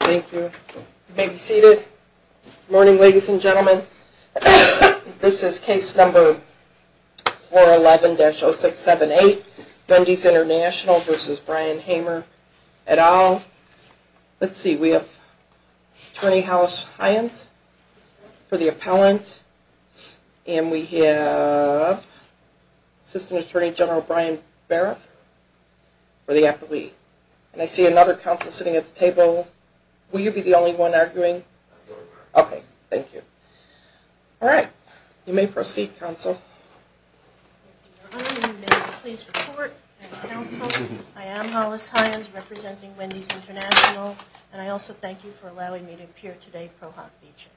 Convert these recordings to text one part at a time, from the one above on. Thank you. You may be seated. Good morning, ladies and gentlemen. This is case number 411-0678, Dundee's International v. Brian Hamer et al. Let's see, we have Attorney House Hyens for the appellant, and we have Assistant Attorney General Brian Barrett for the appellee. And I see another counsel sitting at the table. Will you be the only one arguing? Okay, thank you. All right, you may proceed, counsel. Hollis Hyens I am Hollis Hyens, representing Wendy's International, and I also thank you for allowing me to appear today, Pro Hoc feature.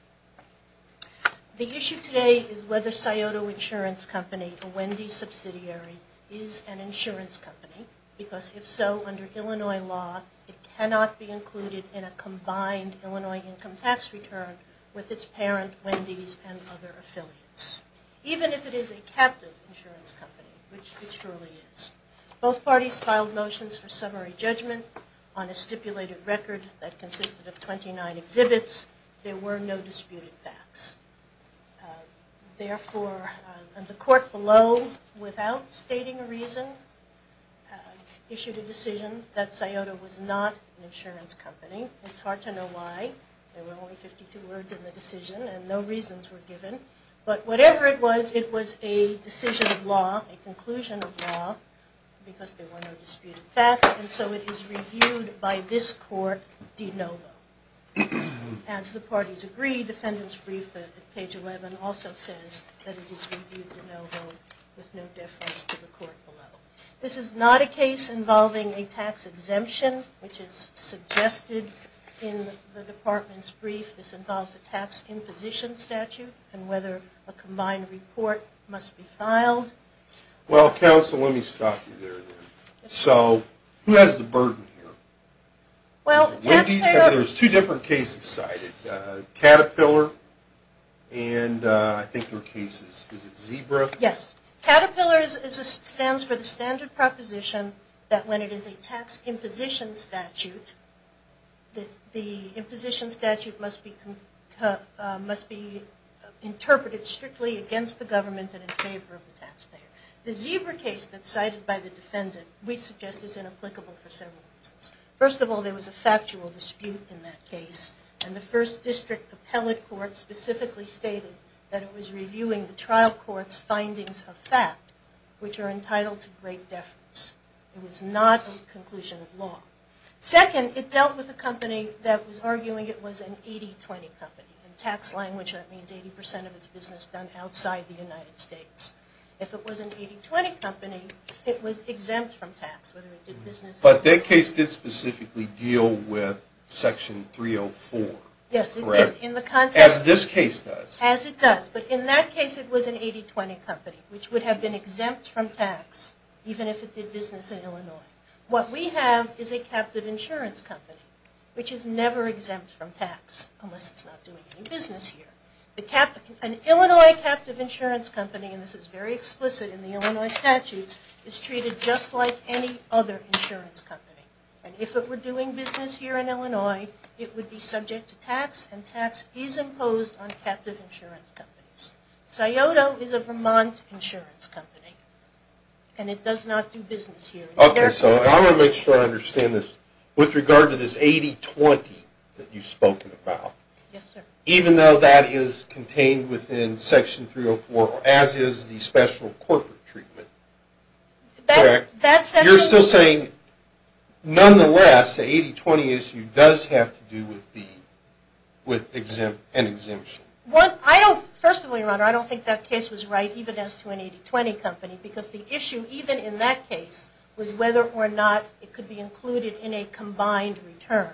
The issue today is whether Scioto Insurance Company, a Wendy's subsidiary, is an insurance company, because if so, under Illinois law, it cannot be included in a combined Illinois income tax return with its parent, Wendy's, and other affiliates. Even if it is a captive insurance company, which it truly is. Both parties filed motions for summary judgment on a stipulated record that consisted of 29 exhibits. There were no disputed facts. Therefore, the court below, without stating a reason, issued a decision that Scioto was not an insurance company. It's hard to know why. There were only 52 words in the decision, and no reasons were given. But whatever it was, it was a decision of law, a conclusion of law, because there were no disputed facts, and so it is reviewed by this court de novo. As the parties agreed, the defendant's brief at page 11 also says that it is reviewed de novo with no deference to the court below. This is not a case involving a tax exemption, which is suggested in the department's brief. This involves a tax imposition statute, and whether a combined report must be filed. Well, counsel, let me stop you there. So, who has the burden here? There's two different cases cited. Caterpillar, and I think there are cases, is it Zebra? Yes. Caterpillar stands for the standard proposition that when it is a tax imposition statute, the imposition statute must be interpreted strictly against the government and in favor of the taxpayer. The Zebra case that's cited by the defendant, we suggest is inapplicable for several reasons. First of all, there was a factual dispute in that case, and the first district appellate court specifically stated that it was reviewing the trial court's findings of fact, which are entitled to great deference. It was not a conclusion of law. Second, it dealt with a company that was arguing it was an 80-20 company. In tax language, that means 80 percent of its business done outside the United States. If it was an 80-20 company, it was exempt from tax. But that case did specifically deal with Section 304. Yes, it did. As this case does. As it does. But in that case, it was an 80-20 company, which would have been exempt from tax, even if it did business in Illinois. What we have is a captive insurance company, which is never exempt from tax, unless it's not doing any business here. An Illinois captive insurance company, and this is very explicit in the Illinois statutes, is treated just like any other insurance company. And if it were doing business here in Illinois, it would be subject to tax, and tax is imposed on captive insurance companies. So, I want to make sure I understand this. With regard to this 80-20 that you've spoken about, even though that is contained within Section 304, as is the special corporate treatment, you're still saying, nonetheless, the 80-20 issue does have to do with an exemption? First of all, Your Honor, I don't think that case was right, even as to an 80-20 company, because the issue, even in that case, was whether or not it could be included in a combined return.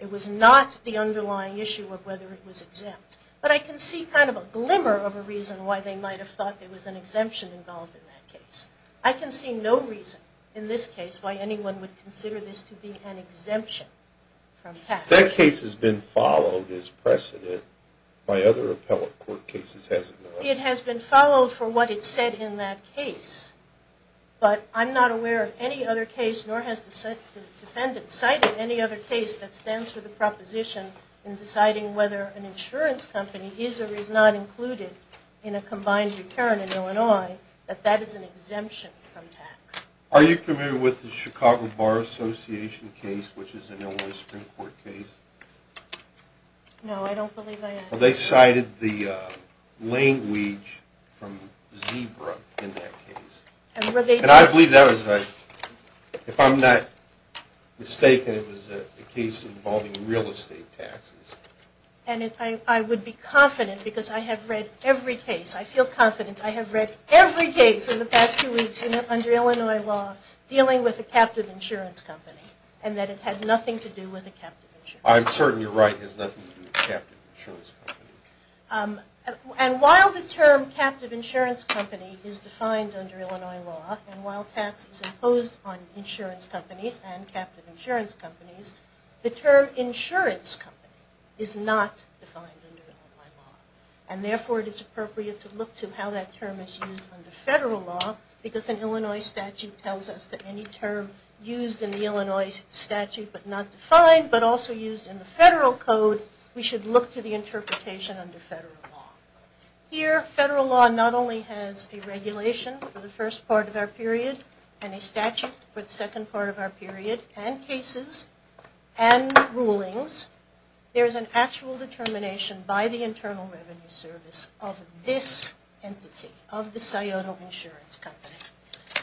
It was not the underlying issue of whether it was exempt. But I can see kind of a glimmer of a reason why they might have thought there was an exemption involved in that case. I can see no reason, in this case, why anyone would consider this to be an exemption from tax. That case has been followed as precedent by other appellate court cases, has it not? It has been followed for what it said in that case. But I'm not aware of any other case, nor has the defendant cited any other case, that stands for the proposition in deciding whether an insurance company is or is not included in a combined return in Illinois, that that is an exemption from tax. Are you familiar with the Chicago Bar Association case, which is an Illinois Supreme Court case? No, I don't believe I am. Well, they cited the language from Zebra in that case. And I believe that was, if I'm not mistaken, it was a case involving real estate taxes. And I would be confident, because I have read every case, I feel confident I have read every case in the past two weeks under Illinois law dealing with a captive insurance company, and that it had nothing to do with a captive insurance company. I'm certain you're right, it has nothing to do with a captive insurance company. And while the term captive insurance company is defined under Illinois law, and while tax is imposed on insurance companies and captive insurance companies, the term insurance company is not defined under Illinois law. And therefore it is appropriate to look to how that term is used under federal law, because an Illinois statute tells us that any term used in the Illinois statute but not defined, but also used in the federal code, we should look to the interpretation under federal law. Here, federal law not only has a regulation for the first part of our period, and a statute for the second part of our period, and cases, and rulings. There is an actual determination by the Internal Revenue Service of this entity, of the Scioto Insurance Company.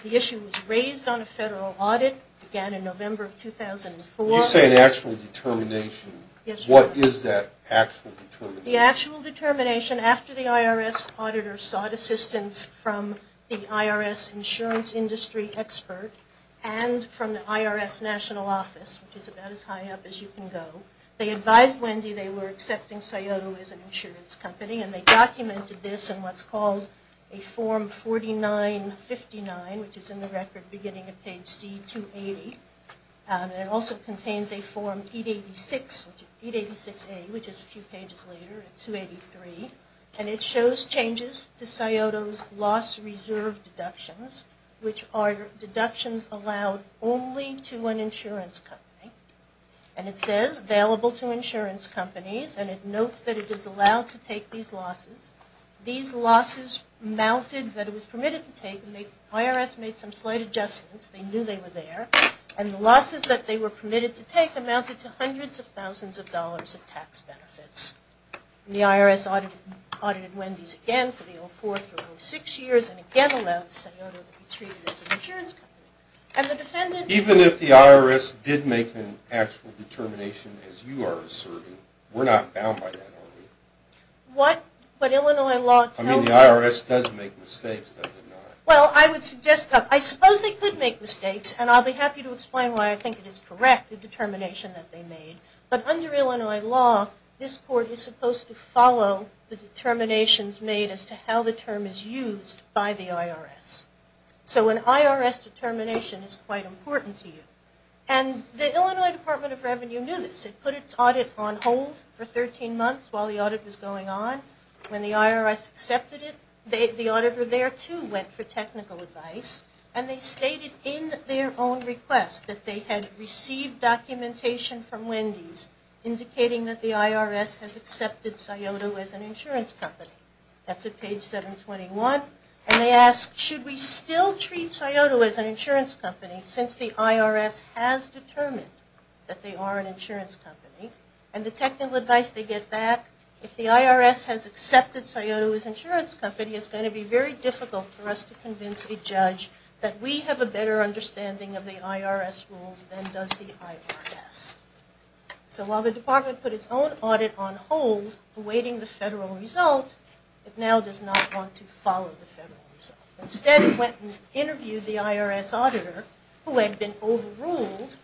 The issue was raised on a federal audit, began in November of 2004. You say an actual determination. Yes, Your Honor. What is that actual determination? The actual determination, after the IRS auditor sought assistance from the IRS insurance industry expert, and from the IRS national office, which is about as high up as you can go. They advised Wendy they were accepting Scioto as an insurance company, and they documented this in what's called a form 4959, which is in the record beginning at page C280. It also contains a form 886A, which is a few pages later at 283. And it shows changes to Scioto's loss reserve deductions, which are deductions allowed only to an insurance company. And it says available to insurance companies, and it notes that it is allowed to take these losses. These losses amounted, that it was permitted to take, and the IRS made some slight adjustments. They knew they were there, and the losses that they were permitted to take amounted to hundreds of thousands of dollars of tax benefits. The IRS audited Wendy's again for the 04 through 06 years, and again allowed Scioto to be treated as an insurance company. And the defendant... Even if the IRS did make an actual determination, as you are asserting, we're not bound by that, are we? What Illinois law tells... I mean, the IRS does make mistakes, does it not? Well, I would suggest that... I suppose they could make mistakes, and I'll be happy to explain why I think it is correct, the determination that they made. But under Illinois law, this court is supposed to follow the determinations made as to how the term is used by the IRS. So an IRS determination is quite important to you. And the Illinois Department of Revenue knew this. It put its audit on hold for 13 months while the audit was going on. When the IRS accepted it, the auditor there, too, went for technical advice. And they stated in their own request that they had received documentation from Wendy's indicating that the IRS has accepted Scioto as an insurance company. That's at page 721. And they asked, should we still treat Scioto as an insurance company since the IRS has determined that they are an insurance company? And the technical advice they get back, if the IRS has accepted Scioto as an insurance company, it's going to be very difficult for us to convince a judge that we have a better understanding of the IRS rules than does the IRS. So while the department put its own audit on hold awaiting the federal result, it now does not want to follow the federal result. Instead, it went and interviewed the IRS auditor, who had been overruled,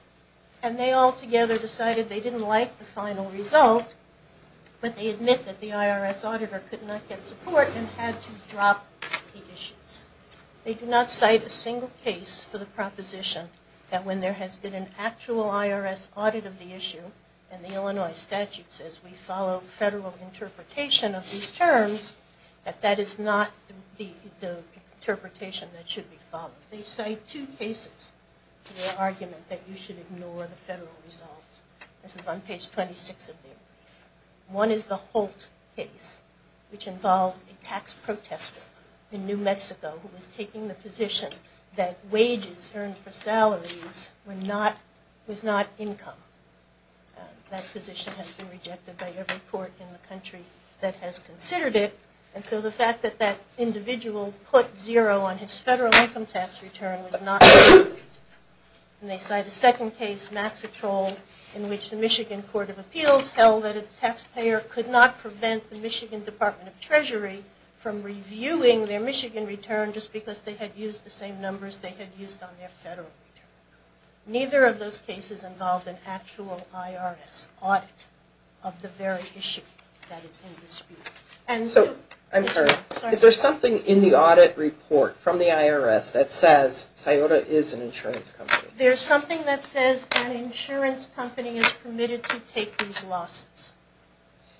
and they all together decided they didn't like the final result. But they admit that the IRS auditor could not get support and had to drop the issues. They do not cite a single case for the proposition that when there has been an actual IRS audit of the issue, and the Illinois statute says we follow federal interpretation of these terms, that that is not the interpretation that should be followed. They cite two cases for the argument that you should ignore the federal result. This is on page 26 of their brief. One is the Holt case, which involved a tax protester in New Mexico who was taking the position that wages earned for salaries was not income. That position has been rejected by every court in the country that has considered it. And so the fact that that individual put zero on his federal income tax return was not included. And they cite a second case, Maxitrol, in which the Michigan Court of Appeals held that a taxpayer could not prevent the Michigan Department of Treasury from reviewing their Michigan return just because they had used the same numbers they had used on their federal return. Neither of those cases involved an actual IRS audit of the very issue that is in dispute. So, I'm sorry, is there something in the audit report from the IRS that says SIOTA is an insurance company? There's something that says an insurance company is permitted to take these losses.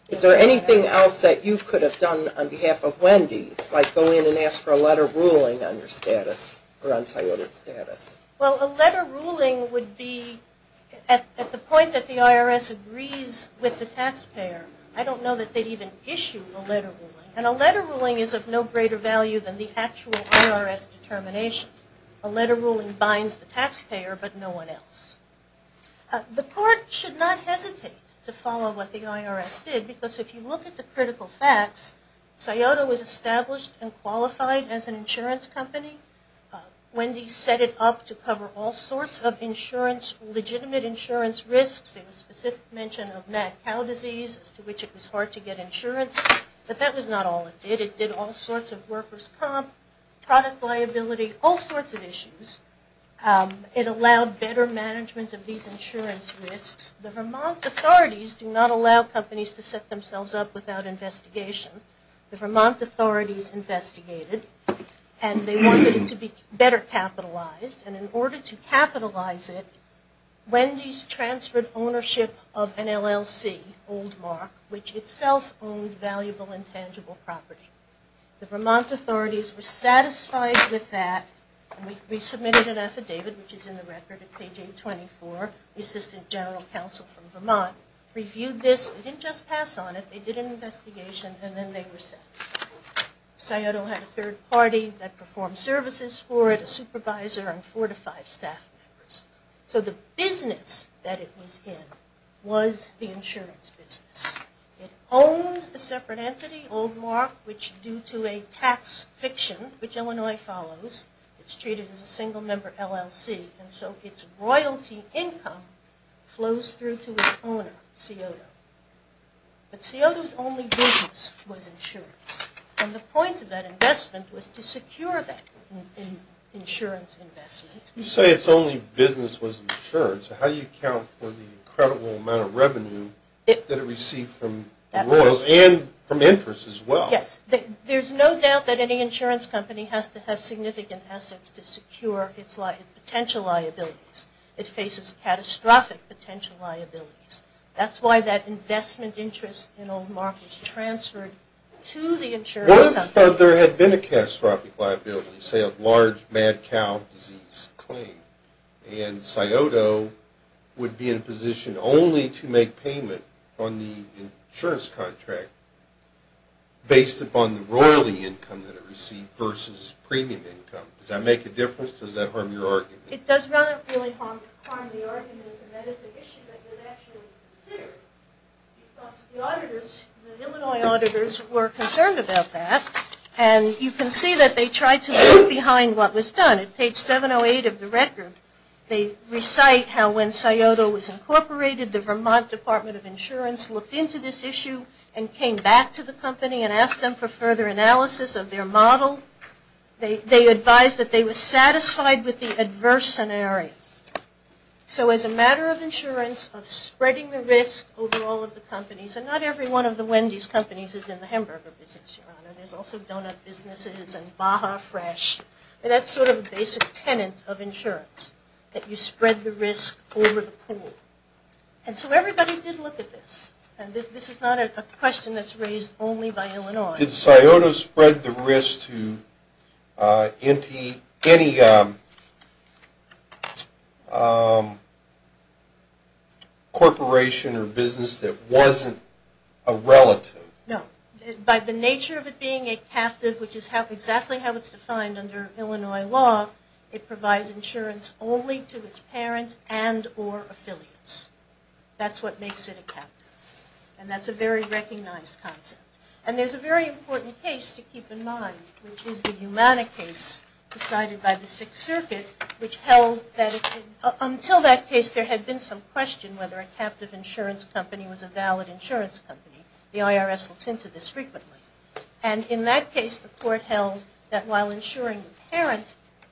Is there anything else that you could have done on behalf of Wendy's, like go in and ask for a letter ruling on your status, or on SIOTA's status? Well, a letter ruling would be at the point that the IRS agrees with the taxpayer. I don't know that they'd even issue a letter ruling. And a letter ruling is of no greater value than the actual IRS determination. A letter ruling binds the taxpayer, but no one else. The court should not hesitate to follow what the IRS did, because if you look at the critical facts, SIOTA was established and qualified as an insurance company. Wendy's set it up to cover all sorts of insurance, legitimate insurance risks. There was specific mention of mad cow disease as to which it was hard to get insurance, but that was not all it did. It did all sorts of workers' comp, product liability, all sorts of issues. It allowed better management of these insurance risks. The Vermont authorities do not allow companies to set themselves up without investigation. The Vermont authorities investigated, and they wanted it to be better capitalized, and in order to capitalize it, Wendy's transferred ownership of an LLC, Old Mark, which itself owned valuable intangible property. The Vermont authorities were satisfied with that, and we submitted an affidavit, which is in the record at page 824. The Assistant General Counsel from Vermont reviewed this. They didn't just pass on it, they did an investigation, and then they were satisfied. SIOTA had a third party that performed services for it, a supervisor, and four to five staff members. So the business that it was in was the insurance business. It owned a separate entity, Old Mark, which due to a tax fiction, which Illinois follows, it's treated as a single member LLC, and so its royalty income flows through to its owner, SIOTA. But SIOTA's only business was insurance, and the point of that investment was to secure that insurance investment. You say its only business was insurance. How do you account for the incredible amount of revenue that it received from the royals and from interest as well? Yes, there's no doubt that any insurance company has to have significant assets to secure its potential liabilities. It faces catastrophic potential liabilities. That's why that investment interest in Old Mark was transferred to the insurance company. What if there had been a catastrophic liability, say a large mad cow disease claim, and SIOTA would be in a position only to make payment on the insurance contract based upon the royalty income that it received versus premium income. Does that make a difference? Does that harm your argument? It does not really harm the argument, and that is an issue that was actually considered because the auditors, the Illinois auditors, were concerned about that, and you can see that they tried to leave behind what was done. At page 708 of the record, they recite how when SIOTA was incorporated, the Vermont Department of Insurance looked into this issue and came back to the company and asked them for further analysis of their model. They advised that they were satisfied with the adverse scenario. So as a matter of insurance, of spreading the risk over all of the companies, and not every one of the Wendy's companies is in the hamburger business, Your Honor. There's also donut businesses and Baja Fresh. That's sort of a basic tenet of insurance, that you spread the risk over the pool. And so everybody did look at this, and this is not a question that's raised only by Illinois. Did SIOTA spread the risk to any corporation or business that wasn't a relative? No. By the nature of it being a captive, which is exactly how it's defined under Illinois law, it provides insurance only to its parent and or affiliates. That's what makes it a captive. And that's a very recognized concept. And there's a very important case to keep in mind, which is the Humana case decided by the Sixth Circuit, which held that until that case, there had been some question whether a captive insurance company was a valid insurance company. The IRS looks into this frequently. And in that case, the court held that while insuring the parent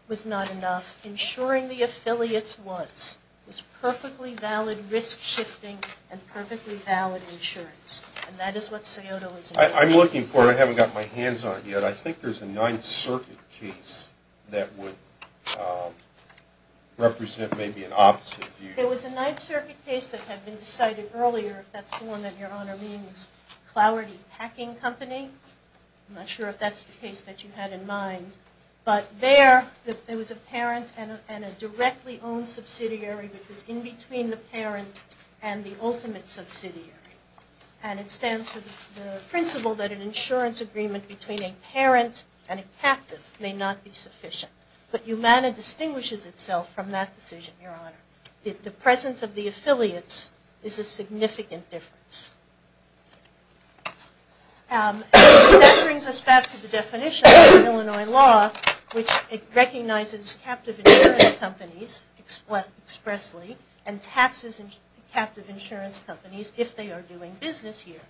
was not enough, insuring the affiliates was. It was perfectly valid risk shifting and perfectly valid insurance. And that is what SIOTA was. I'm looking for it. I haven't got my hands on it yet. I think there's a Ninth Circuit case that would represent maybe an opposite view. There was a Ninth Circuit case that had been decided earlier, I'm not sure if that's the one that Your Honor means, Clowardy Packing Company. I'm not sure if that's the case that you had in mind. But there, there was a parent and a directly owned subsidiary that was in between the parent and the ultimate subsidiary. And it stands for the principle that an insurance agreement between a parent and a captive may not be sufficient. But Humana distinguishes itself from that decision, Your Honor. The presence of the affiliates is a significant difference. That brings us back to the definition of Illinois law, which recognizes captive insurance companies expressly and taxes captive insurance companies if they are doing business here.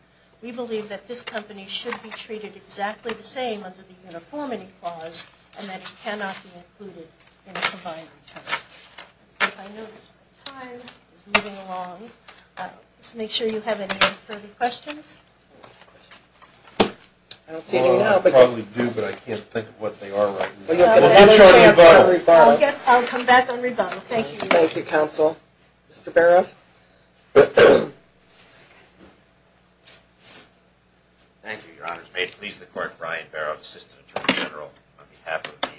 We believe that this company should be treated exactly the same under the uniformity clause and that it cannot be included in a combined return. I know this time is moving along. Let's make sure you have any further questions. I don't see anything to help. I probably do, but I can't think of what they are right now. I'll come back and rebuttal. Thank you. Thank you, Counsel. Mr. Barof. Thank you, Your Honor. May it please the Court, Brian Barof, Assistant Attorney General, on behalf of the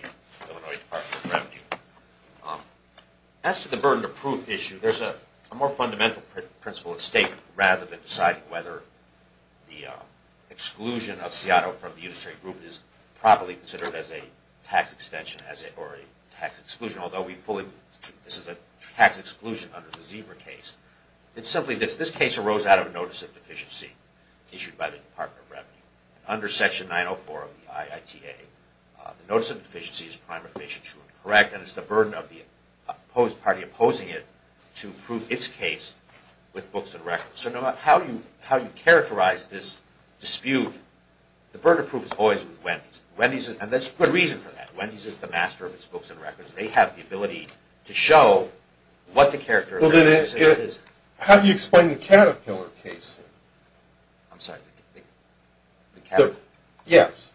Illinois Department of Revenue. As to the burden of proof issue, there is a more fundamental principle at stake rather than deciding whether the exclusion of Seattle from the unitary group is properly considered as a tax extension or a tax exclusion, although this is a tax exclusion under the Zebra case. It's simply that this case arose out of a notice of deficiency issued by the Department of Revenue. Under Section 904 of the IITA, the notice of deficiency is primarily true and correct, and it's the burden of the party opposing it to prove its case with books and records. So no matter how you characterize this dispute, the burden of proof is always with Wendy's. And there's good reason for that. Wendy's is the master of its books and records. They have the ability to show what the character of the case is. How do you explain the Caterpillar case? I'm sorry, the Caterpillar? Yes.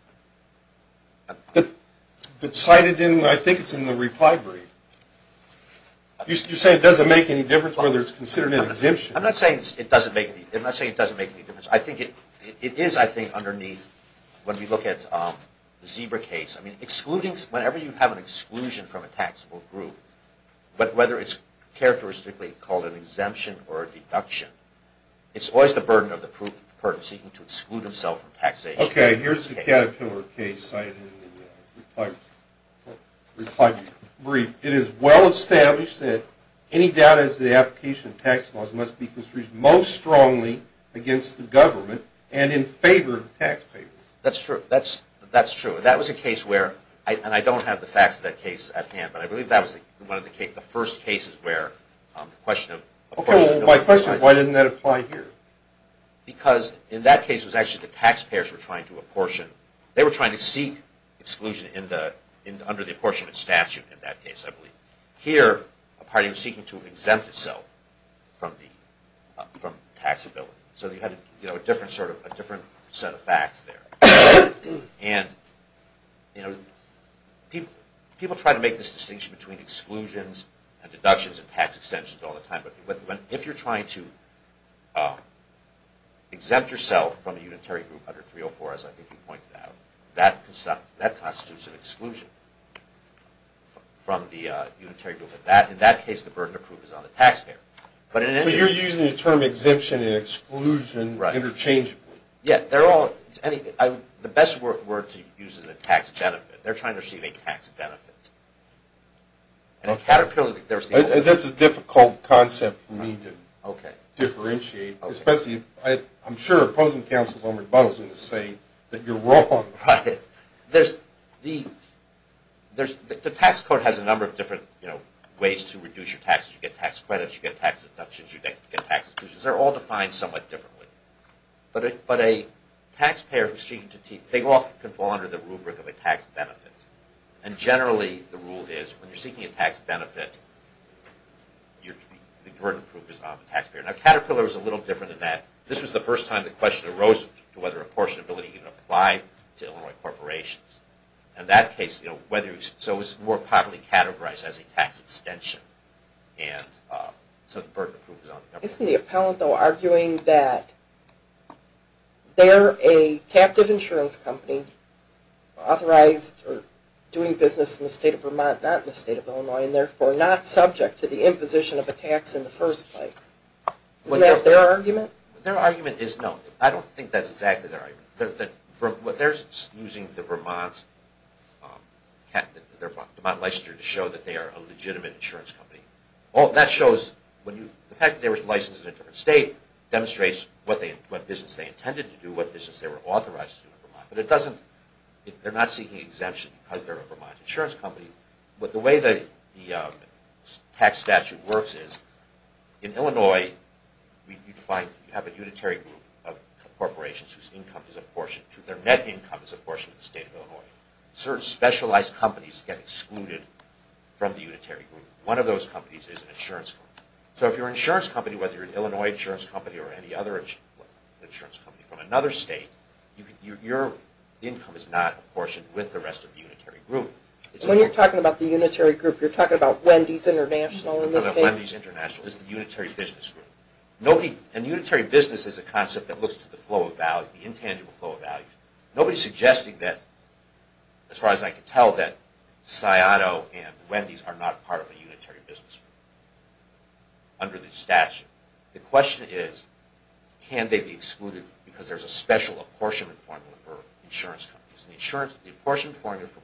But cited in, I think it's in the reply brief. You say it doesn't make any difference whether it's considered an exemption. I'm not saying it doesn't make any difference. It is, I think, underneath when we look at the Zebra case. Whenever you have an exclusion from a taxable group, whether it's characteristically called an exemption or a deduction, it's always the burden of the party seeking to exclude itself from taxation. Okay, here's the Caterpillar case cited in the reply brief. It is well established that any doubt as to the application of tax laws must be construed most strongly against the government and in favor of the taxpayer. That's true. That's true. That was a case where, and I don't have the facts of that case at hand, but I believe that was one of the first cases where the question of Why didn't that apply here? Because in that case it was actually the taxpayers were trying to apportion. They were trying to seek exclusion under the apportionment statute in that case, I believe. Here, a party was seeking to exempt itself from taxability. So you had a different set of facts there. And people try to make this distinction between exclusions and deductions and tax extensions all the time. But if you're trying to exempt yourself from a unitary group under 304, as I think you pointed out, that constitutes an exclusion from the unitary group. In that case, the burden of proof is on the taxpayer. So you're using the term exemption and exclusion interchangeably. Yeah. The best word to use is a tax benefit. They're trying to receive a tax benefit. That's a difficult concept for me to differentiate, especially if I'm sure opposing counsel is going to say that you're wrong. Right. The tax code has a number of different ways to reduce your taxes. You get tax credits. You get tax deductions. You get tax exclusions. They're all defined somewhat differently. But a taxpayer who's seeking to – they often can fall under the rubric of a tax benefit. And generally the rule is when you're seeking a tax benefit, the burden of proof is on the taxpayer. Now Caterpillar is a little different than that. This was the first time the question arose to whether apportionability even applied to Illinois corporations. In that case, whether – so it was more popularly categorized as a tax extension. And so the burden of proof is on the taxpayer. Isn't the appellant, though, arguing that they're a captive insurance company authorized or doing business in the state of Vermont, not in the state of Illinois, and therefore not subject to the imposition of a tax in the first place? Isn't that their argument? Their argument is no. I don't think that's exactly their argument. What they're using the Vermont – the Vermont licensure to show that they are a legitimate insurance company. Well, that shows when you – the fact that they were licensed in a different state demonstrates what business they intended to do, what business they were authorized to do in Vermont. But it doesn't – they're not seeking exemption because they're a Vermont insurance company. But the way the tax statute works is in Illinois you'd find – you have a unitary group of corporations whose income is apportioned to – their net income is apportioned to the state of Illinois. Certain specialized companies get excluded from the unitary group. One of those companies is an insurance company. So if you're an insurance company, whether you're an Illinois insurance company or any other insurance company from another state, your income is not apportioned with the rest of the unitary group. When you're talking about the unitary group, you're talking about Wendy's International in this case? No, not Wendy's International. This is the unitary business group. Nobody – and unitary business is a concept that looks to the flow of value, the intangible flow of value. Nobody's suggesting that, as far as I can tell, that Sciato and Wendy's are not part of a unitary business group under the statute. The question is, can they be excluded because there's a special apportionment formula for insurance companies? And the insurance – the apportionment formula for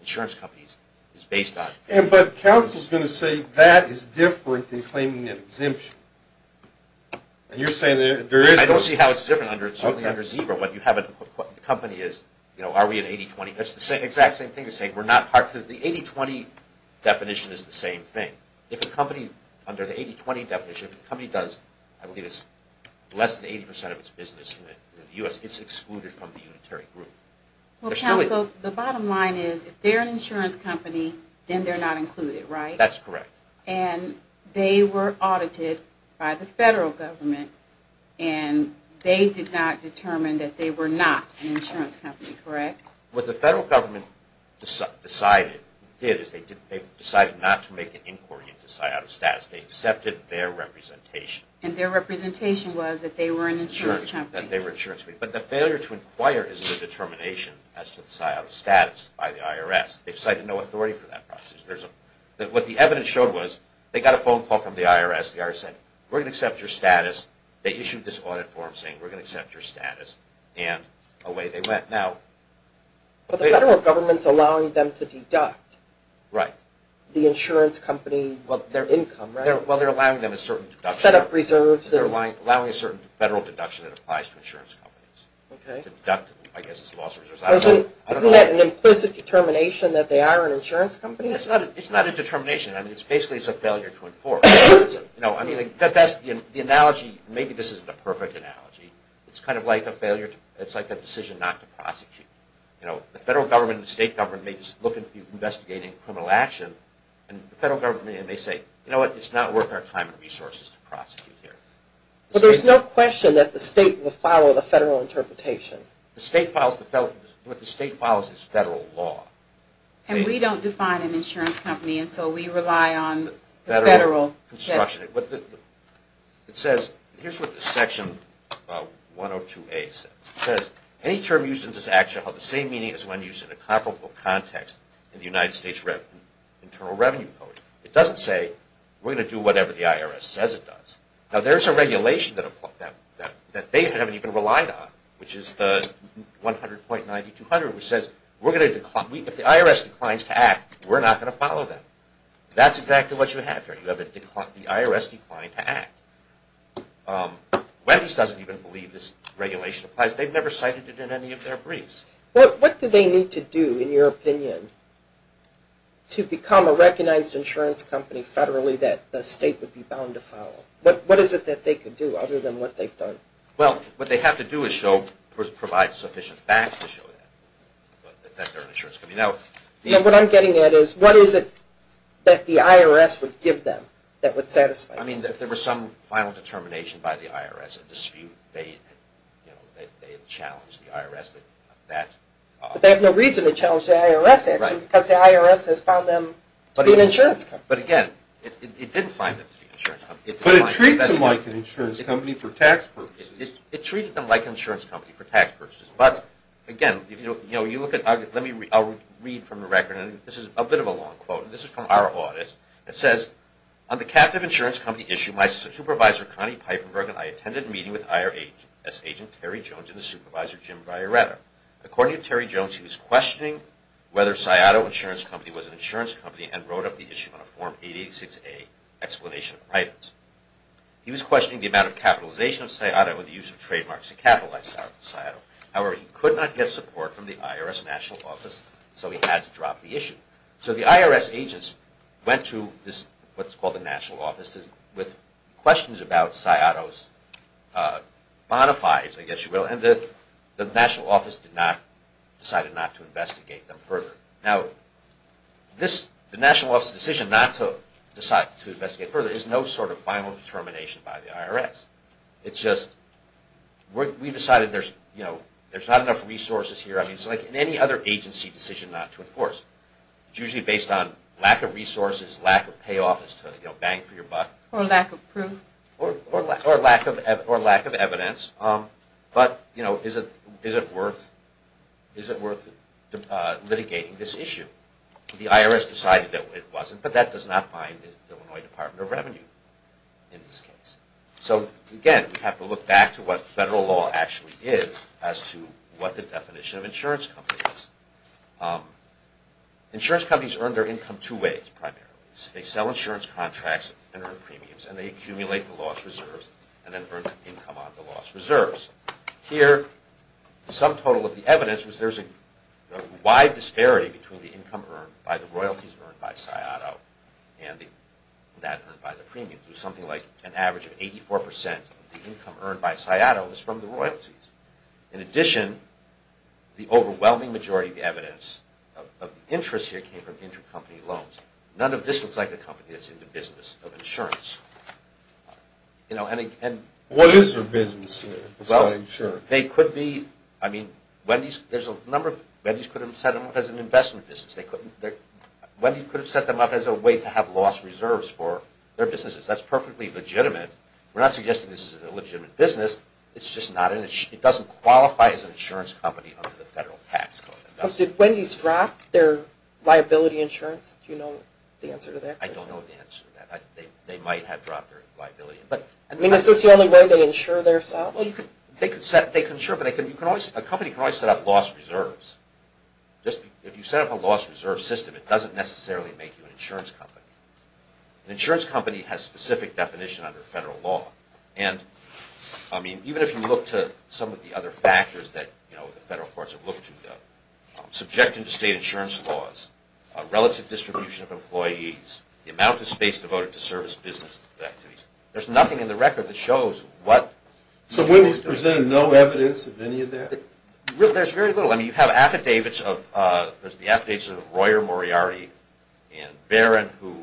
insurance companies is based on – But counsel's going to say that is different than claiming an exemption. And you're saying there is – I don't see how it's different under ZEBRA when you have a – the company is, you know, are we at 80-20? That's the exact same thing to say we're not part – the 80-20 definition is the same thing. If a company – under the 80-20 definition, if a company does, I believe it's less than 80 percent of its business in the U.S., it's excluded from the unitary group. Well, counsel, the bottom line is if they're an insurance company, then they're not included, right? That's correct. And they were audited by the federal government, and they did not determine that they were not an insurance company, correct? What the federal government decided – did is they decided not to make an inquiry into psi-autostatus. They accepted their representation. And their representation was that they were an insurance company. Sure, that they were an insurance company. But the failure to inquire is the determination as to the psi-autostatus by the IRS. They've cited no authority for that process. What the evidence showed was they got a phone call from the IRS. The IRS said, we're going to accept your status. They issued this audit form saying, we're going to accept your status. And away they went. But the federal government's allowing them to deduct the insurance company – well, their income, right? Well, they're allowing them a certain deduction. Set up reserves. They're allowing a certain federal deduction that applies to insurance companies. Okay. To deduct, I guess, its losses. Isn't that an implicit determination that they are an insurance company? It's not a determination. Basically, it's a failure to enforce. The analogy – maybe this isn't a perfect analogy. It's kind of like a decision not to prosecute. The federal government and the state government may just look at you investigating criminal action. And the federal government may say, you know what? It's not worth our time and resources to prosecute here. But there's no question that the state will follow the federal interpretation. What the state follows is federal law. And we don't define an insurance company, and so we rely on the federal – Federal construction. It says – here's what Section 102A says. It says, any term used in this action will have the same meaning as one used in a comparable context in the United States Internal Revenue Code. It doesn't say, we're going to do whatever the IRS says it does. Now, there's a regulation that they haven't even relied on, which is the 100.9200, which says, we're going to – if the IRS declines to act, we're not going to follow that. That's exactly what you have here. You have the IRS decline to act. Welles doesn't even believe this regulation applies. They've never cited it in any of their briefs. What do they need to do, in your opinion, to become a recognized insurance company federally that the state would be bound to follow? What is it that they could do, other than what they've done? Well, what they have to do is show – provide sufficient facts to show that they're an insurance company. Now, what I'm getting at is, what is it that the IRS would give them that would satisfy them? I mean, if there were some final determination by the IRS, a dispute, they'd challenge the IRS that that – But they have no reason to challenge the IRS, actually, because the IRS has found them to be an insurance company. But, again, it didn't find them to be an insurance company. But it treats them like an insurance company for tax purposes. It treated them like an insurance company for tax purposes. But, again, you look at – let me – I'll read from the record. This is a bit of a long quote. This is from our audit. It says, on the captive insurance company issue, my supervisor, Connie Piperberg, and I attended a meeting with IRS agent Terry Jones and his supervisor, Jim Vareta. According to Terry Jones, he was questioning whether Sciato Insurance Company was an insurance company and wrote up the issue on a Form 886A explanation of items. He was questioning the amount of capitalization of Sciato and the use of trademarks to capitalize on Sciato. However, he could not get support from the IRS National Office, so he had to drop the issue. So the IRS agents went to what's called the National Office with questions about Sciato's bona fides, I guess you will, and the National Office decided not to investigate them further. Now, the National Office's decision not to decide to investigate further is no sort of final determination by the IRS. It's just, we've decided there's not enough resources here. I mean, it's like any other agency decision not to enforce. It's usually based on lack of resources, lack of payoff as to, you know, bang for your buck. Or lack of proof. Or lack of evidence. But, you know, is it worth litigating this issue? The IRS decided that it wasn't, but that does not bind the Illinois Department of Revenue in this case. So, again, we have to look back to what federal law actually is as to what the definition of insurance company is. Insurance companies earn their income two ways, primarily. They sell insurance contracts and earn premiums, and they accumulate the lost reserves and then earn income on the lost reserves. Here, the sum total of the evidence was there's a wide disparity between the income earned by the royalties earned by Sciato and that earned by the premiums. There's something like an average of 84% of the income earned by Sciato is from the royalties. In addition, the overwhelming majority of the evidence of interest here came from intercompany loans. None of this looks like a company that's in the business of insurance. What is their business of selling insurance? They could be, I mean, Wendy's, there's a number of, Wendy's could have set them up as an investment business. They couldn't, Wendy's could have set them up as a way to have lost reserves for their businesses. That's perfectly legitimate. We're not suggesting this is a legitimate business. It's just not, it doesn't qualify as an insurance company under the federal tax code. Did Wendy's drop their liability insurance? Do you know the answer to that? I don't know the answer to that. They might have dropped their liability. I mean, is this the only way they insure themselves? They can insure, but a company can always set up lost reserves. If you set up a lost reserve system, it doesn't necessarily make you an insurance company. An insurance company has specific definition under federal law. And, I mean, even if you look to some of the other factors that, you know, the federal courts have looked to, subjecting to state insurance laws, relative distribution of employees, the amount of space devoted to service business activities, there's nothing in the record that shows what Wendy's does. So Wendy's presented no evidence of any of that? There's very little. I mean, you have affidavits of, there's the affidavits of Royer Moriarty and Varon who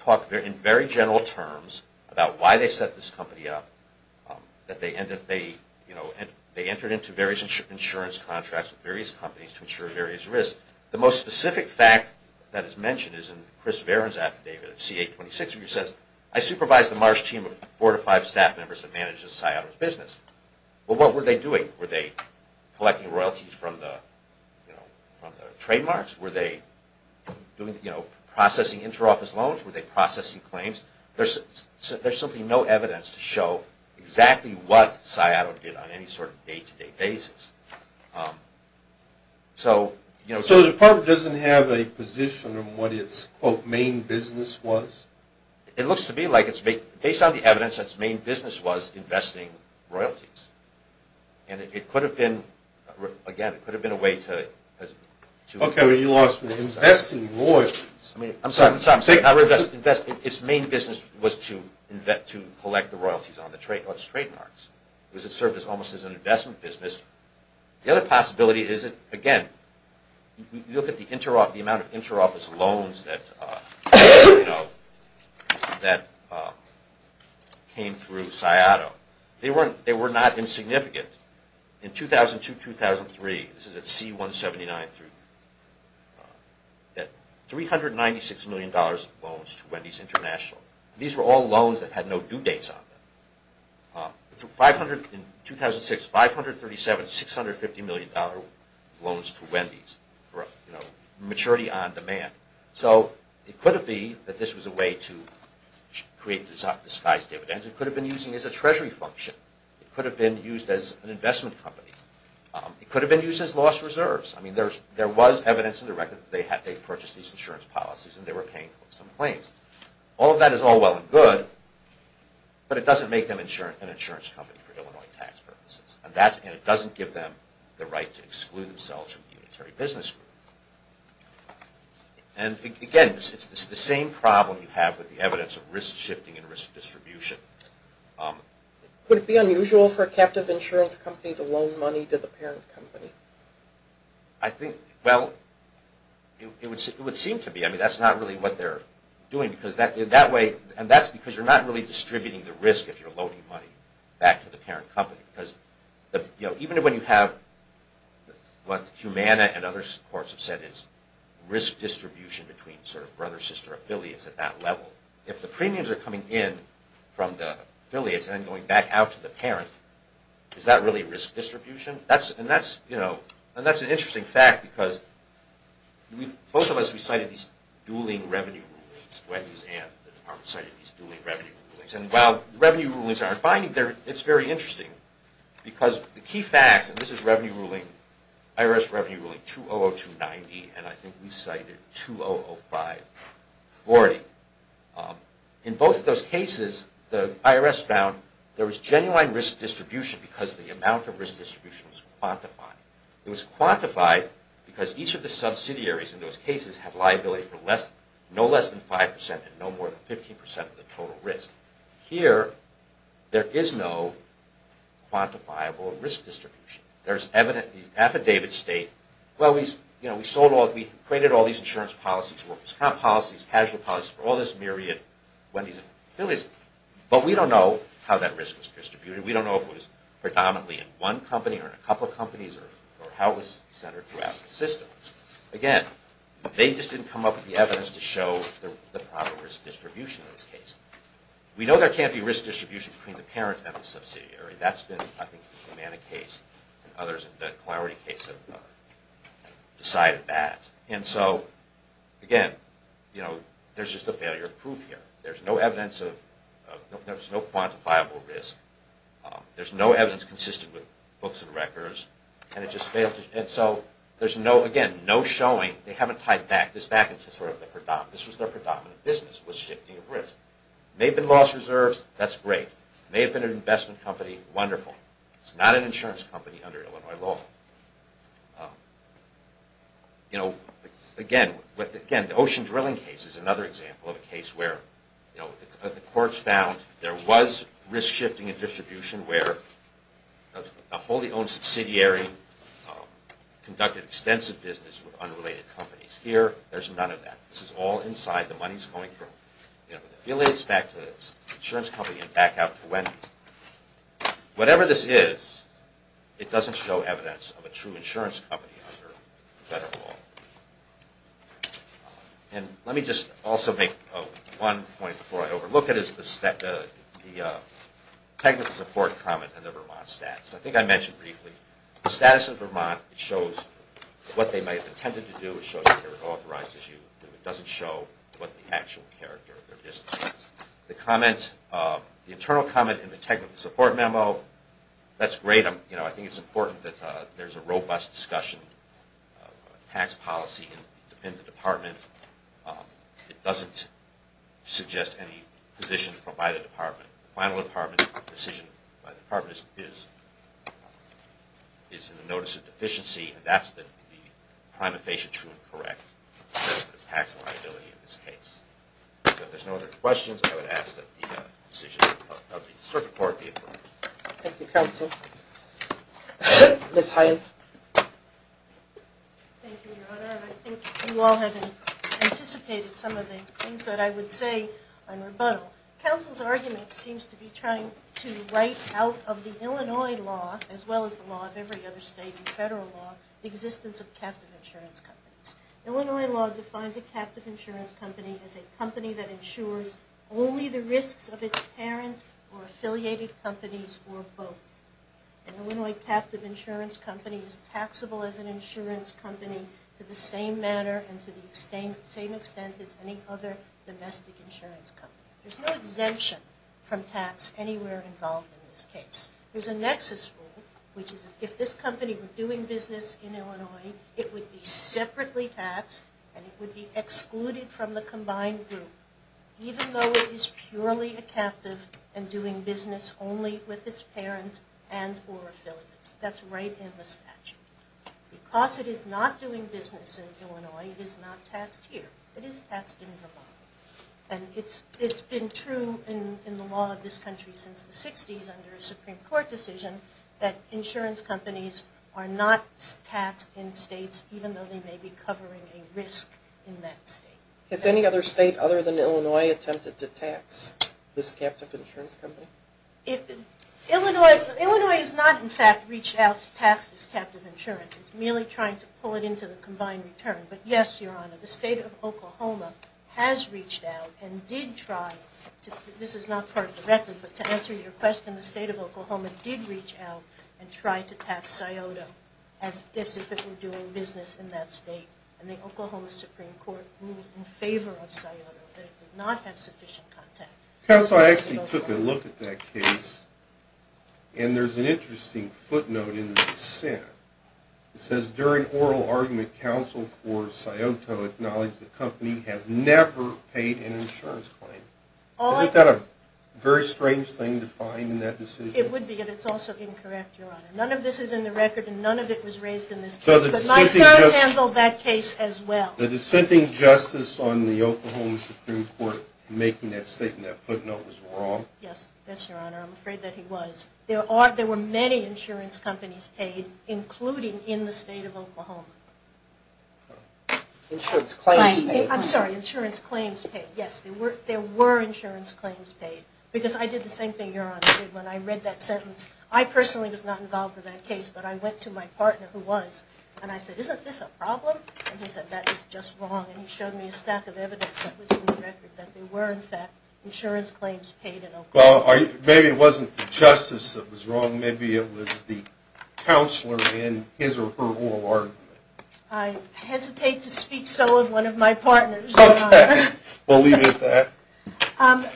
talk in very general terms about why they set this company up, that they entered into various insurance contracts with various companies to insure various risks. The most specific fact that is mentioned is in Chris Varon's affidavit, C-826, which says, I supervise the Marsh team of four to five staff members that manages Scioto's business. Well, what were they doing? Were they collecting royalties from the trademarks? Were they processing inter-office loans? Were they processing claims? There's simply no evidence to show exactly what Scioto did on any sort of day-to-day basis. So the department doesn't have a position on what its, quote, main business was? It looks to me like it's based on the evidence that its main business was investing royalties. And it could have been, again, it could have been a way to. Okay. You lost me. Investing royalties. I'm sorry. Investing. Its main business was to collect the royalties on its trademarks. It served almost as an investment business. The other possibility is that, again, you look at the amount of inter-office loans that came through Scioto. They were not insignificant. In 2002-2003, this is at C-179, $396 million in loans to Wendy's International. These were all loans that had no due dates on them. In 2006, $537-$650 million loans to Wendy's for maturity on demand. So it could have been that this was a way to create disguised dividends. It could have been used as a treasury function. It could have been used as an investment company. It could have been used as lost reserves. I mean, there was evidence in the record that they purchased these insurance policies and they were paying some claims. All of that is all well and good, but it doesn't make them an insurance company for Illinois tax purposes. And it doesn't give them the right to exclude themselves from the unitary business group. And, again, it's the same problem you have with the evidence of risk shifting and risk distribution. Would it be unusual for a captive insurance company to loan money to the parent company? I think, well, it would seem to be. I mean, that's not really what they're doing. And that's because you're not really distributing the risk if you're loaning money back to the parent company. Because even when you have what Humana and other courts have said is risk distribution between sort of brother-sister affiliates at that level, if the premiums are coming in from the affiliates and then going back out to the parent, is that really risk distribution? And that's an interesting fact because both of us, we cited these dueling revenue rulings. Wendy's and the department cited these dueling revenue rulings. And while revenue rulings aren't binding, it's very interesting. Because the key facts, and this is revenue ruling, IRS revenue ruling 200290, and I think we cited 200540. In both of those cases, the IRS found there was genuine risk distribution because the amount of risk distribution was quantified. It was quantified because each of the subsidiaries in those cases have liability for no less than 5% and no more than 15% of the total risk. Here, there is no quantifiable risk distribution. The affidavits state, well, we equated all these insurance policies, workers' comp policies, casual policies for all this myriad, Wendy's and affiliates, but we don't know how that risk was distributed. We don't know if it was predominantly in one company or in a couple of companies or how it was centered throughout the system. Again, they just didn't come up with the evidence to show the proper risk distribution in this case. We know there can't be risk distribution between the parent and the subsidiary. That's been, I think, the Humana case and others in the Clarity case have decided that. Again, there's just a failure of proof here. There's no quantifiable risk. There's no evidence consistent with books and records. Again, no showing. They haven't tied this back. This was their predominant business was shifting of risk. There may have been lost reserves. That's great. It may have been an investment company. Wonderful. It's not an insurance company under Illinois law. Again, the Ocean Drilling case is another example of a case where the courts found there was risk shifting and distribution where a wholly owned subsidiary conducted extensive business with unrelated companies. Here, there's none of that. This is all inside. The money's going from the affiliates back to the insurance company and back out to Wendy's. Whatever this is, it doesn't show evidence of a true insurance company under federal law. Let me just also make one point before I overlook it. It's the technical support comment on the Vermont status. I think I mentioned briefly the status of Vermont. It shows what they may have intended to do. It shows that they're an authorized issue. It doesn't show what the actual character of their business is. The internal comment in the technical support memo, that's great. I think it's important that there's a robust discussion of tax policy in the department. It doesn't suggest any position by the department. The final decision by the department is in the notice of deficiency. That's the prima facie true and correct tax liability in this case. If there's no other questions, I would ask that the decision of the circuit court be approved. Thank you, Counsel. Ms. Hyatt. Thank you, Your Honor. I think you all have anticipated some of the things that I would say on rebuttal. Counsel's argument seems to be trying to write out of the Illinois law, as well as the law of every other state and federal law, the existence of captive insurance companies. Illinois law defines a captive insurance company as a company that insures only the risks of its parent or affiliated companies or both. An Illinois captive insurance company is taxable as an insurance company to the same manner and to the same extent as any other domestic insurance company. There's no exemption from tax anywhere involved in this case. There's a nexus rule, which is if this company were doing business in Illinois, it would be separately taxed and it would be excluded from the combined group, even though it is purely a captive and doing business only with its parent and or affiliates. That's right in the statute. Because it is not doing business in Illinois, it is not taxed here. It is taxed in Vermont. And it's been true in the law of this country since the 60s under a Supreme Court decision that insurance companies are not taxed in states even though they may be covering a risk in that state. Has any other state other than Illinois attempted to tax this captive insurance company? Illinois has not, in fact, reached out to tax this captive insurance. It's merely trying to pull it into the combined return. But yes, Your Honor, the state of Oklahoma has reached out and did try, this is not part of the record, but to answer your question, the state of Oklahoma did reach out and try to tax SIOTA as if it were doing business in that state. And the Oklahoma Supreme Court moved in favor of SIOTA, but it did not have sufficient contact. Counsel, I actually took a look at that case, and there's an interesting footnote in the dissent. It says, during oral argument, counsel for SIOTA acknowledged the company has never paid an insurance claim. Isn't that a very strange thing to find in that decision? It would be, but it's also incorrect, Your Honor. None of this is in the record, and none of it was raised in this case. But my son handled that case as well. The dissenting justice on the Oklahoma Supreme Court making that statement, that footnote, was wrong? Yes, yes, Your Honor. I'm afraid that he was. There were many insurance companies paid, including in the state of Oklahoma. Insurance claims paid. I'm sorry, insurance claims paid. Yes, there were insurance claims paid. Because I did the same thing, Your Honor, when I read that sentence. I personally was not involved in that case, but I went to my partner, who was, and I said, isn't this a problem? And he said, that is just wrong. And he showed me a stack of evidence that was in the record, that there were, in fact, insurance claims paid in Oklahoma. Well, maybe it wasn't the justice that was wrong. Maybe it was the counselor in his or her oral argument. I hesitate to speak so of one of my partners, Your Honor. Okay. We'll leave it at that.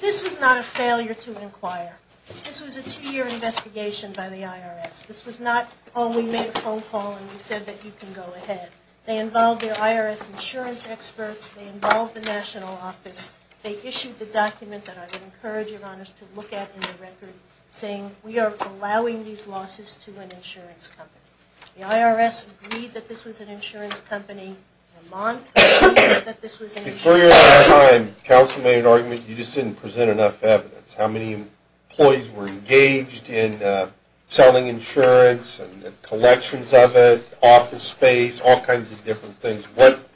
This was not a failure to inquire. This was a two-year investigation by the IRS. This was not, oh, we made a phone call and we said that you can go ahead. They involved their IRS insurance experts. They involved the national office. They issued the document that I would encourage, Your Honors, to look at in the record, saying we are allowing these losses to an insurance company. The IRS agreed that this was an insurance company. Vermont agreed that this was an insurance company. Before your time, counsel made an argument you just didn't present enough evidence. How many employees were engaged in selling insurance and collections of it, office space, all kinds of different things.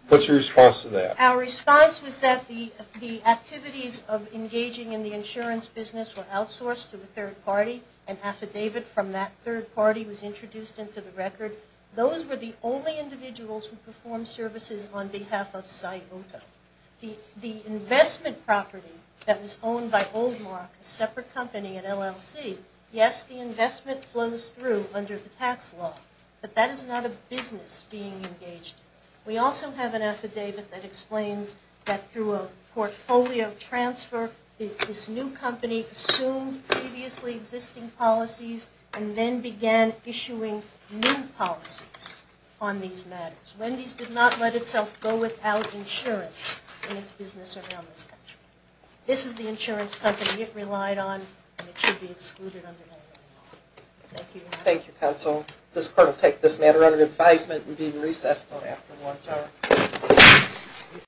What's your response to that? Our response was that the activities of engaging in the insurance business were outsourced to a third party. An affidavit from that third party was introduced into the record. Those were the only individuals who performed services on behalf of Scioto. The investment property that was owned by Oldmark, a separate company at LLC, yes, the investment flows through under the tax law. But that is not a business being engaged. We also have an affidavit that explains that through a portfolio transfer, this new company assumed previously existing policies and then began issuing new policies on these matters. Wendy's did not let itself go without insurance in its business around this country. This is the insurance company it relied on and it should be excluded under that law. Thank you. Thank you, counsel. This court will take this matter under advisement and be in recess until after 1 p.m.